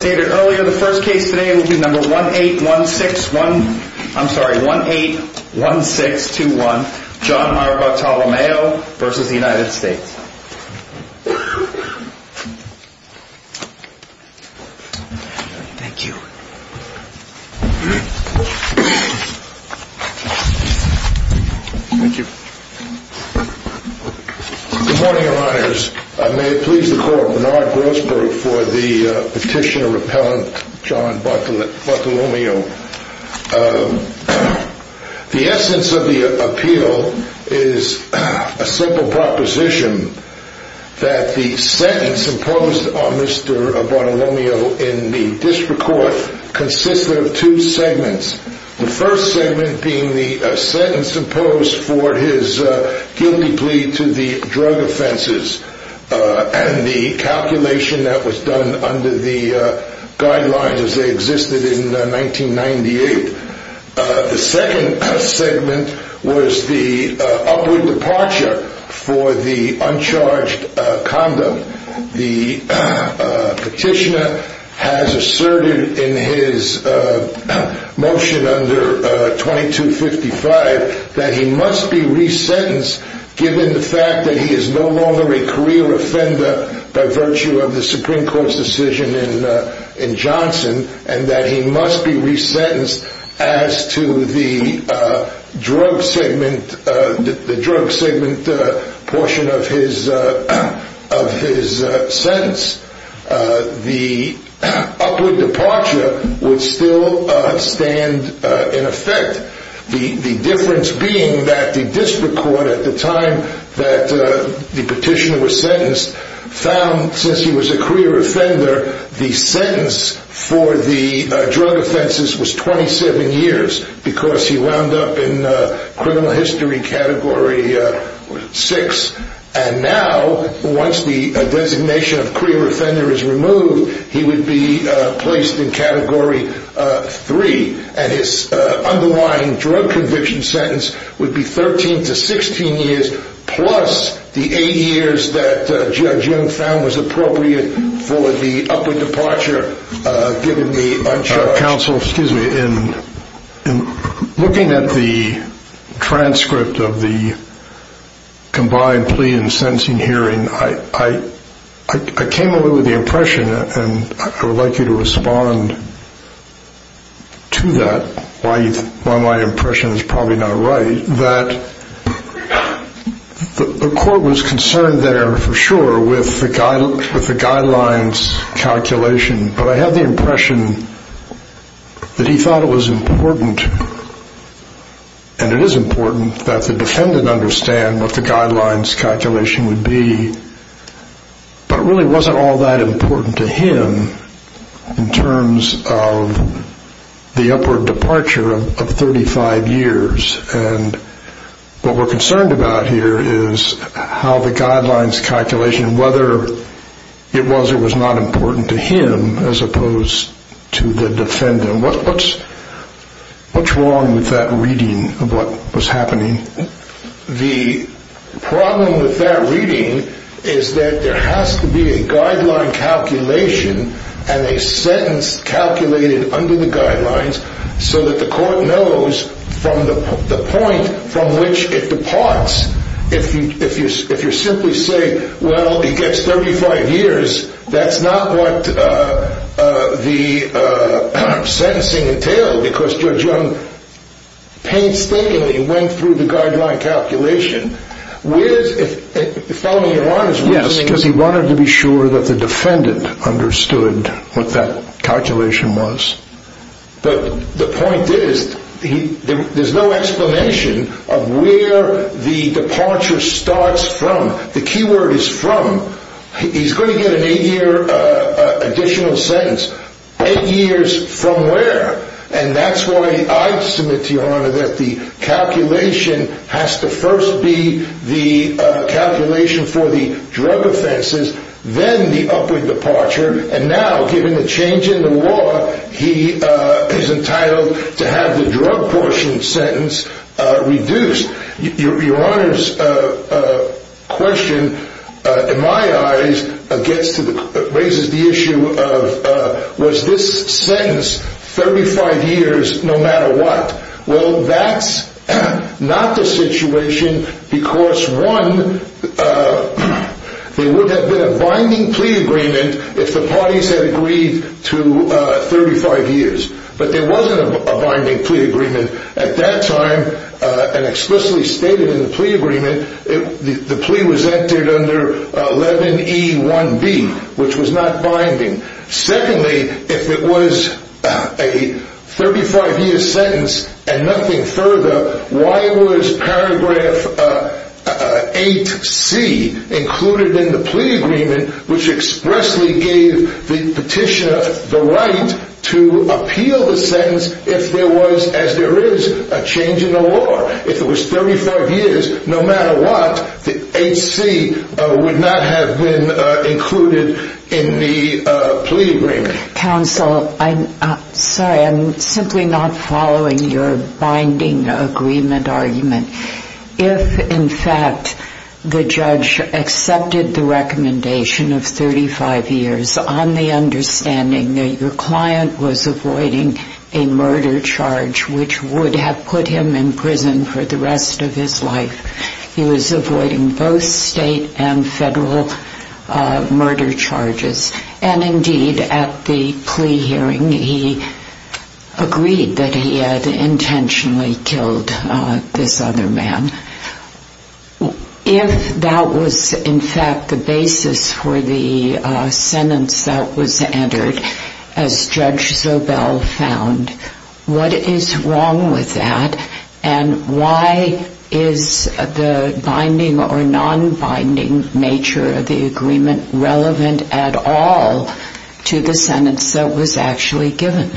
stated earlier the first case today will be number one eight one six one i'm sorry one eight one six two one john marco tolomeo versus the united states thank you thank you good morning your honors i may please the court bernard grossberg for the petitioner repellent john bartolomeo the essence of the appeal is a simple proposition that the sentence imposed on mr bartolomeo in the district court consisted of two segments the first segment being the sentence imposed for his guilty plea to the drug offenses and the calculation that was done under the guidelines as they existed in 1998 the second segment was the upward departure for the he must be resentenced given the fact that he is no longer a career offender by virtue of the supreme court's decision in uh in johnson and that he must be resentenced as to the drug segment uh the drug segment uh portion of his uh of his uh sentence uh the upward departure would still uh stand uh in effect the the difference being that the district court at the time that uh the petitioner was sentenced found since he was a career offender the sentence for the drug offenses was 27 years because he wound up in uh criminal history category uh six and now once the designation of career offender is removed he would be uh placed in category uh three and his uh underlying drug conviction sentence would be 13 to 16 years plus the eight years that uh judge young found was appropriate for the upward departure uh given the council excuse me in in looking at the transcript of the combined plea and sentencing hearing i i i came away with the impression and i would like you to respond to that why why my impression is probably not right that the court was concerned there for sure with the guide with the guidelines calculation but i had the impression that he thought it was important and it is important that the defendant understand what the guidelines calculation would be but it really wasn't all that important to him in terms of the upward departure of 35 years and what we're concerned about here is how the guidelines calculation whether it was or was not important to him as opposed to the defendant what what's what's wrong with that reading of what was happening the problem with that reading is that there has to be a guideline calculation and a sentence calculated under the guidelines so that the court knows from the the point from which it departs if you if you if you simply say well he gets 35 years that's not what uh uh the uh sentencing entailed because judge young painstakingly went through the guideline calculation where's if if following Iran is yes because he wanted to be sure that the there's no explanation of where the departure starts from the key word is from he's going to get an eight year uh additional sentence eight years from where and that's why i submit to your honor that the calculation has to first be the uh calculation for the drug offenses then the with departure and now given the change in the law he uh is entitled to have the drug portion sentence uh reduced your honor's uh uh question uh in my eyes against the raises the issue of uh was this sentence 35 years no matter what well that's not the situation because one uh there would have been a binding plea agreement if the parties had agreed to uh 35 years but there wasn't a binding plea agreement at that time uh and explicitly stated in the plea agreement it the plea was entered under 11 e 1 b which was not binding secondly if it was a 35 year sentence and nothing further why was paragraph uh eight c included in the plea agreement which expressly gave the petitioner the right to appeal the sentence if there was as there is a change in the law if it was 35 years no matter what the hc would not have been uh included in the plea counsel i'm sorry i'm simply not following your binding agreement argument if in fact the judge accepted the recommendation of 35 years on the understanding that your client was avoiding a murder charge which would have put him in prison for the rest of his life he was avoiding both and federal uh murder charges and indeed at the plea hearing he agreed that he had intentionally killed uh this other man if that was in fact the basis for the sentence that was entered as judge zobell found what is wrong with that and why is the binding or non-binding nature of the agreement relevant at all to the sentence that was actually given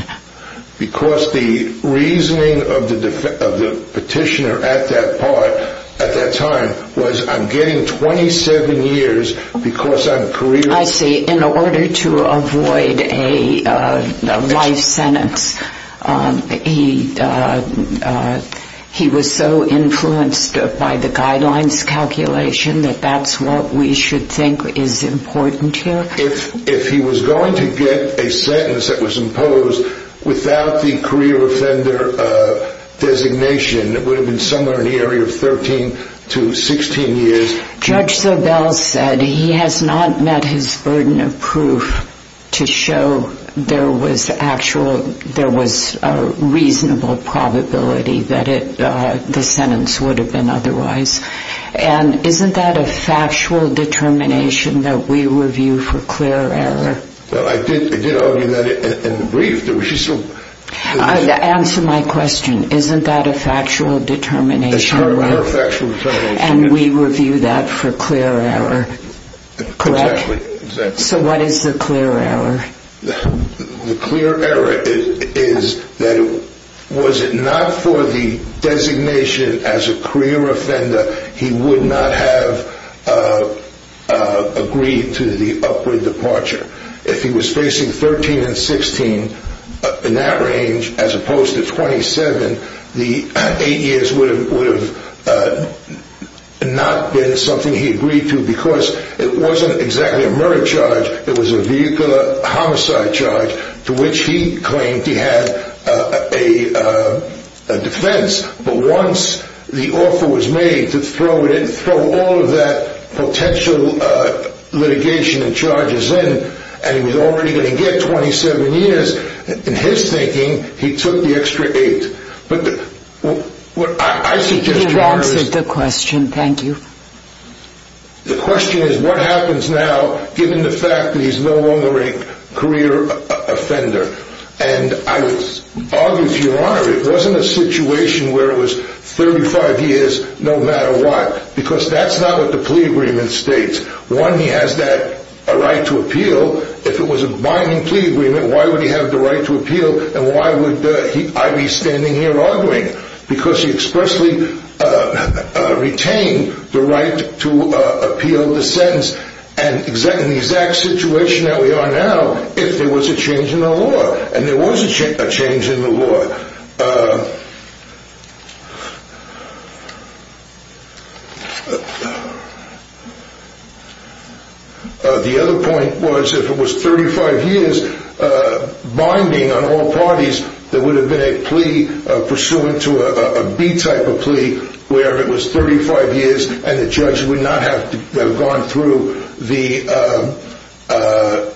because the reasoning of the of the petitioner at that part at that time was i'm getting 27 years because i'm career i see in order to avoid a uh life sentence um he uh he was so influenced by the guidelines calculation that that's what we should think is important here if if he was going to get a sentence that was imposed without the career offender uh designation it would have been somewhere in the area of 13 to 16 years judge zobell said he has not met his burden of proof to show there was actual there was a reasonable probability that it uh the sentence would have been otherwise and isn't that a factual determination that we review for clear error well i did i did argue that in the brief there was just answer my question isn't that a factual determination and we review that for clear error correct so what is the clear error the clear error is that was it not for the designation as a career offender he would not have agreed to the upward departure if he was facing 13 and 16 in that range as opposed to 27 the eight years would have would have not been something he agreed to because it wasn't exactly a murder charge it was a vehicular homicide charge to which he claimed he had a uh a defense but once the offer was made to throw it in throw all of that potential uh litigation and charges in and he was already going to get 27 years in his thinking he took the extra eight but what i answered the question thank you the question is what happens now given the fact that he's no longer a career offender and i would argue to your honor it wasn't a situation where it was 35 years no matter what because that's not what the plea agreement states one he has that right to appeal if it was a binding plea agreement why would he have the right to appeal and why would uh he i'd standing here arguing because he expressly uh retained the right to uh appeal the sentence and exactly the exact situation that we are now if there was a change in the law and there was a change in the law uh the other point was if it was 35 years uh binding on all parties there would have been a plea pursuant to a b type of plea where it was 35 years and the judge would not have to have gone through the uh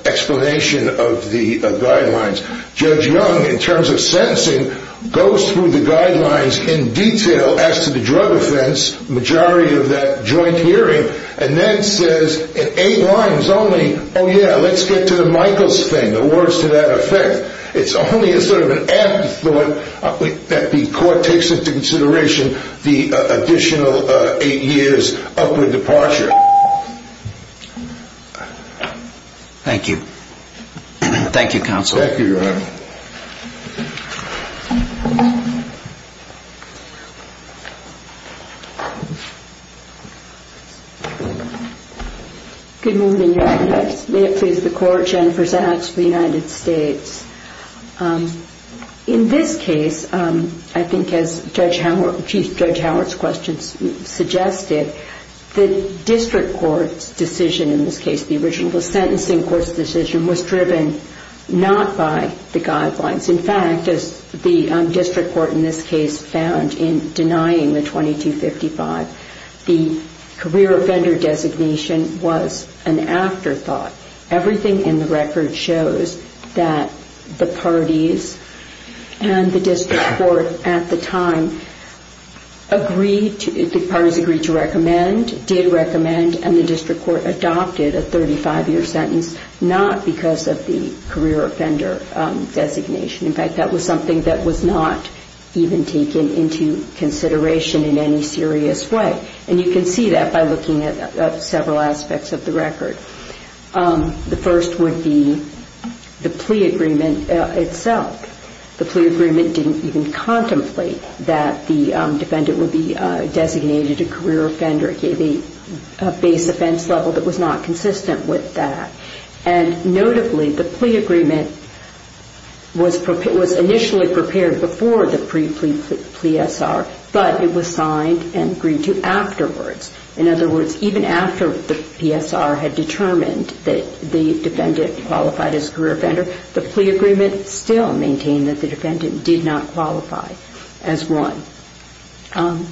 explanation of the guidelines judge young in terms of sentencing goes through the guidelines in detail as to the drug offense majority of that joint hearing and then says in eight lines only oh yeah let's get to the michaels thing the words to that effect it's only a sort of an afterthought that the court takes into consideration the additional uh eight years upward departure thank you thank you counsel thank you your honor um good morning may it please the court jennifer zapps for the united states um in this case um i think as judge howard chief judge howard's questions suggested the district court's decision in this case the original sentencing court's decision was driven not by the guidelines in the district court in this case found in denying the 2255 the career offender designation was an afterthought everything in the record shows that the parties and the district court at the time agreed to the parties agreed to recommend did recommend and the district court adopted a 35 that was something that was not even taken into consideration in any serious way and you can see that by looking at several aspects of the record the first would be the plea agreement itself the plea agreement didn't even contemplate that the defendant would be uh designated a career offender it gave a base offense level that was not consistent with that and notably the plea agreement was prepared was initially prepared before the pre-plea plea sr but it was signed and agreed to afterwards in other words even after the psr had determined that the defendant qualified as career offender the plea agreement still maintained that the defendant did not qualify as one um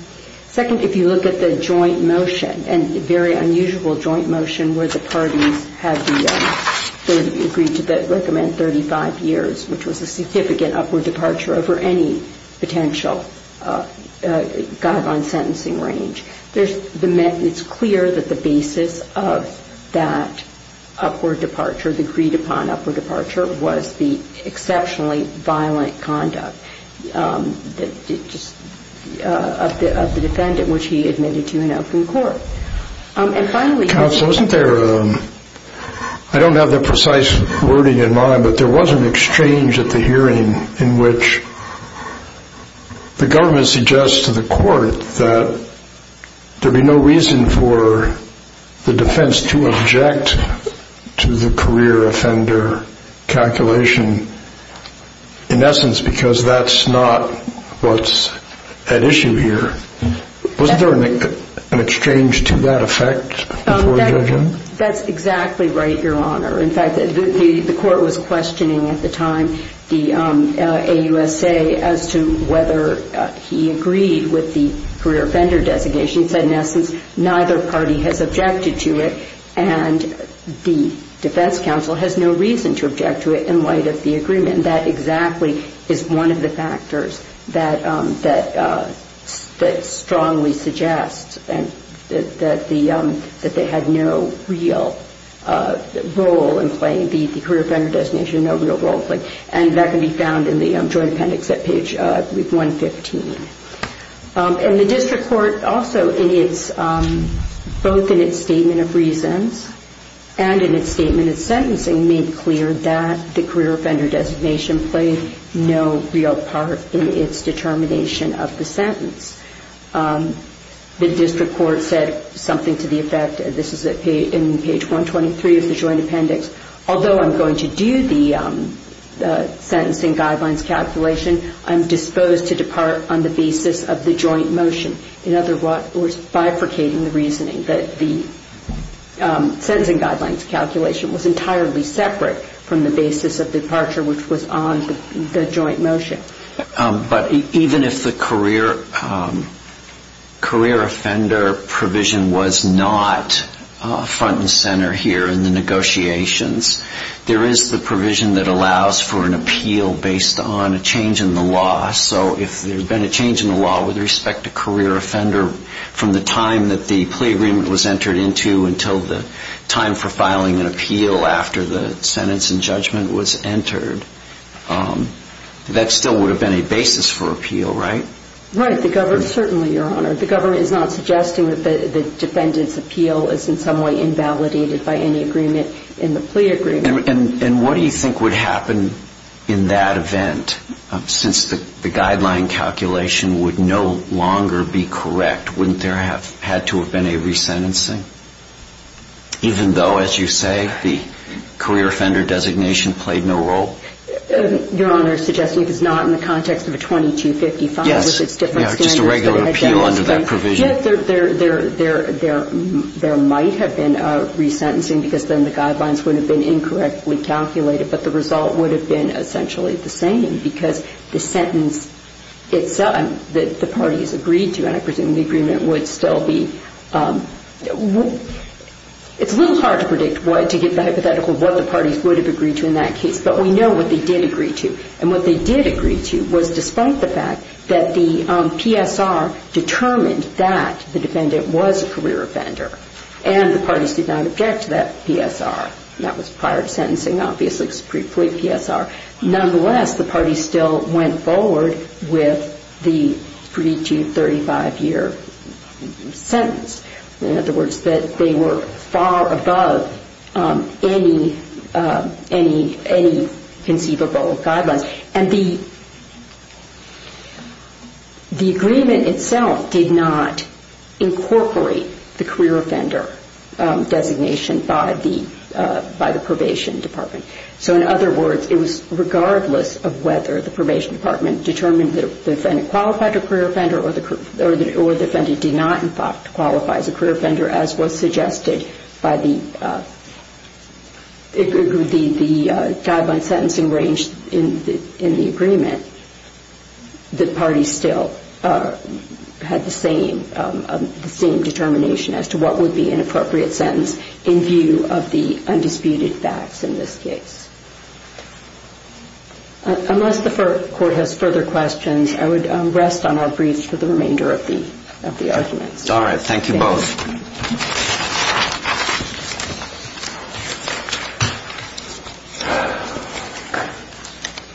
second if you look at the joint motion and very unusual joint motion where the parties had the third agreed to that recommend 35 years which was a significant upward departure over any potential uh guideline sentencing range there's the it's clear that the basis of that upward departure agreed upon upward departure was the exceptionally violent conduct um that just uh of the of the defendant which he admitted to in open court um and finally council wasn't there i don't have the precise wording in mind but there was an exchange at the hearing in which the government suggests to the court that there'd be no reason for the defense to object to the career offender calculation in essence because that's not what's at issue here was there an exchange to that effect that's exactly right your honor in fact the the court was questioning at the time the um uh ausa as to whether he agreed with the career offender designation said in essence neither party has objected to it and the defense council has no reason to object to it in light of the agreement and that exactly is one of the factors that um that uh that strongly suggests and that the um that they had no real uh role in playing the career offender designation no real role playing and that can be found in the um joint appendix at page uh week 115 um and the district court also in its um both in its statement of reasons and in its statement of sentencing made clear that career offender designation played no real part in its determination of the sentence the district court said something to the effect this is a page in page 123 of the joint appendix although i'm going to do the um the sentencing guidelines calculation i'm disposed to depart on the basis of the joint motion in other words bifurcating the reasoning that the sentencing guidelines calculation was entirely separate from the basis of departure which was on the joint motion but even if the career career offender provision was not front and center here in the negotiations there is the provision that allows for an appeal based on a change in the law so if there's been a change in the law with respect to career offender from the time that the plea agreement was entered into until the time for filing an appeal after the sentence and judgment was entered um that still would have been a basis for appeal right right the government certainly your honor the government is not suggesting that the defendant's appeal is in some way invalidated by any agreement in the plea agreement and what do you think would happen in that event since the guideline calculation would no longer be correct wouldn't there have had to have been a resentencing even though as you say the career offender designation played no role your honor suggesting if it's not in the context of a 2255 yes it's different just a regular appeal under that provision there there there there there might have been a resentencing because then the guidelines would have been incorrectly calculated but the result would have been essentially the same because the sentence itself that the party has agreed to and i presume the agreement would still be um it's a little hard to predict what to get the hypothetical what the parties would have agreed to in that case but we know what they did agree to and what they did agree to was despite the fact that the PSR determined that the defendant was a career offender and the party did not object to that PSR that was prior to sentencing obviously it's pre-plea PSR nonetheless the party still went forward with the 3 to 35 year sentence in other words that they were far above um any uh any any conceivable guidelines and the the agreement itself did not incorporate the career offender designation by the uh by the regardless of whether the probation department determined that the defendant qualified a career offender or the or the defendant did not in fact qualify as a career offender as was suggested by the uh the the uh guideline sentencing range in the in the agreement the party still uh had the same um the same determination as to what would be an appropriate sentence in view of the undisputed facts in this case unless the court has further questions i would rest on our briefs for the remainder of the of the arguments all right thank you both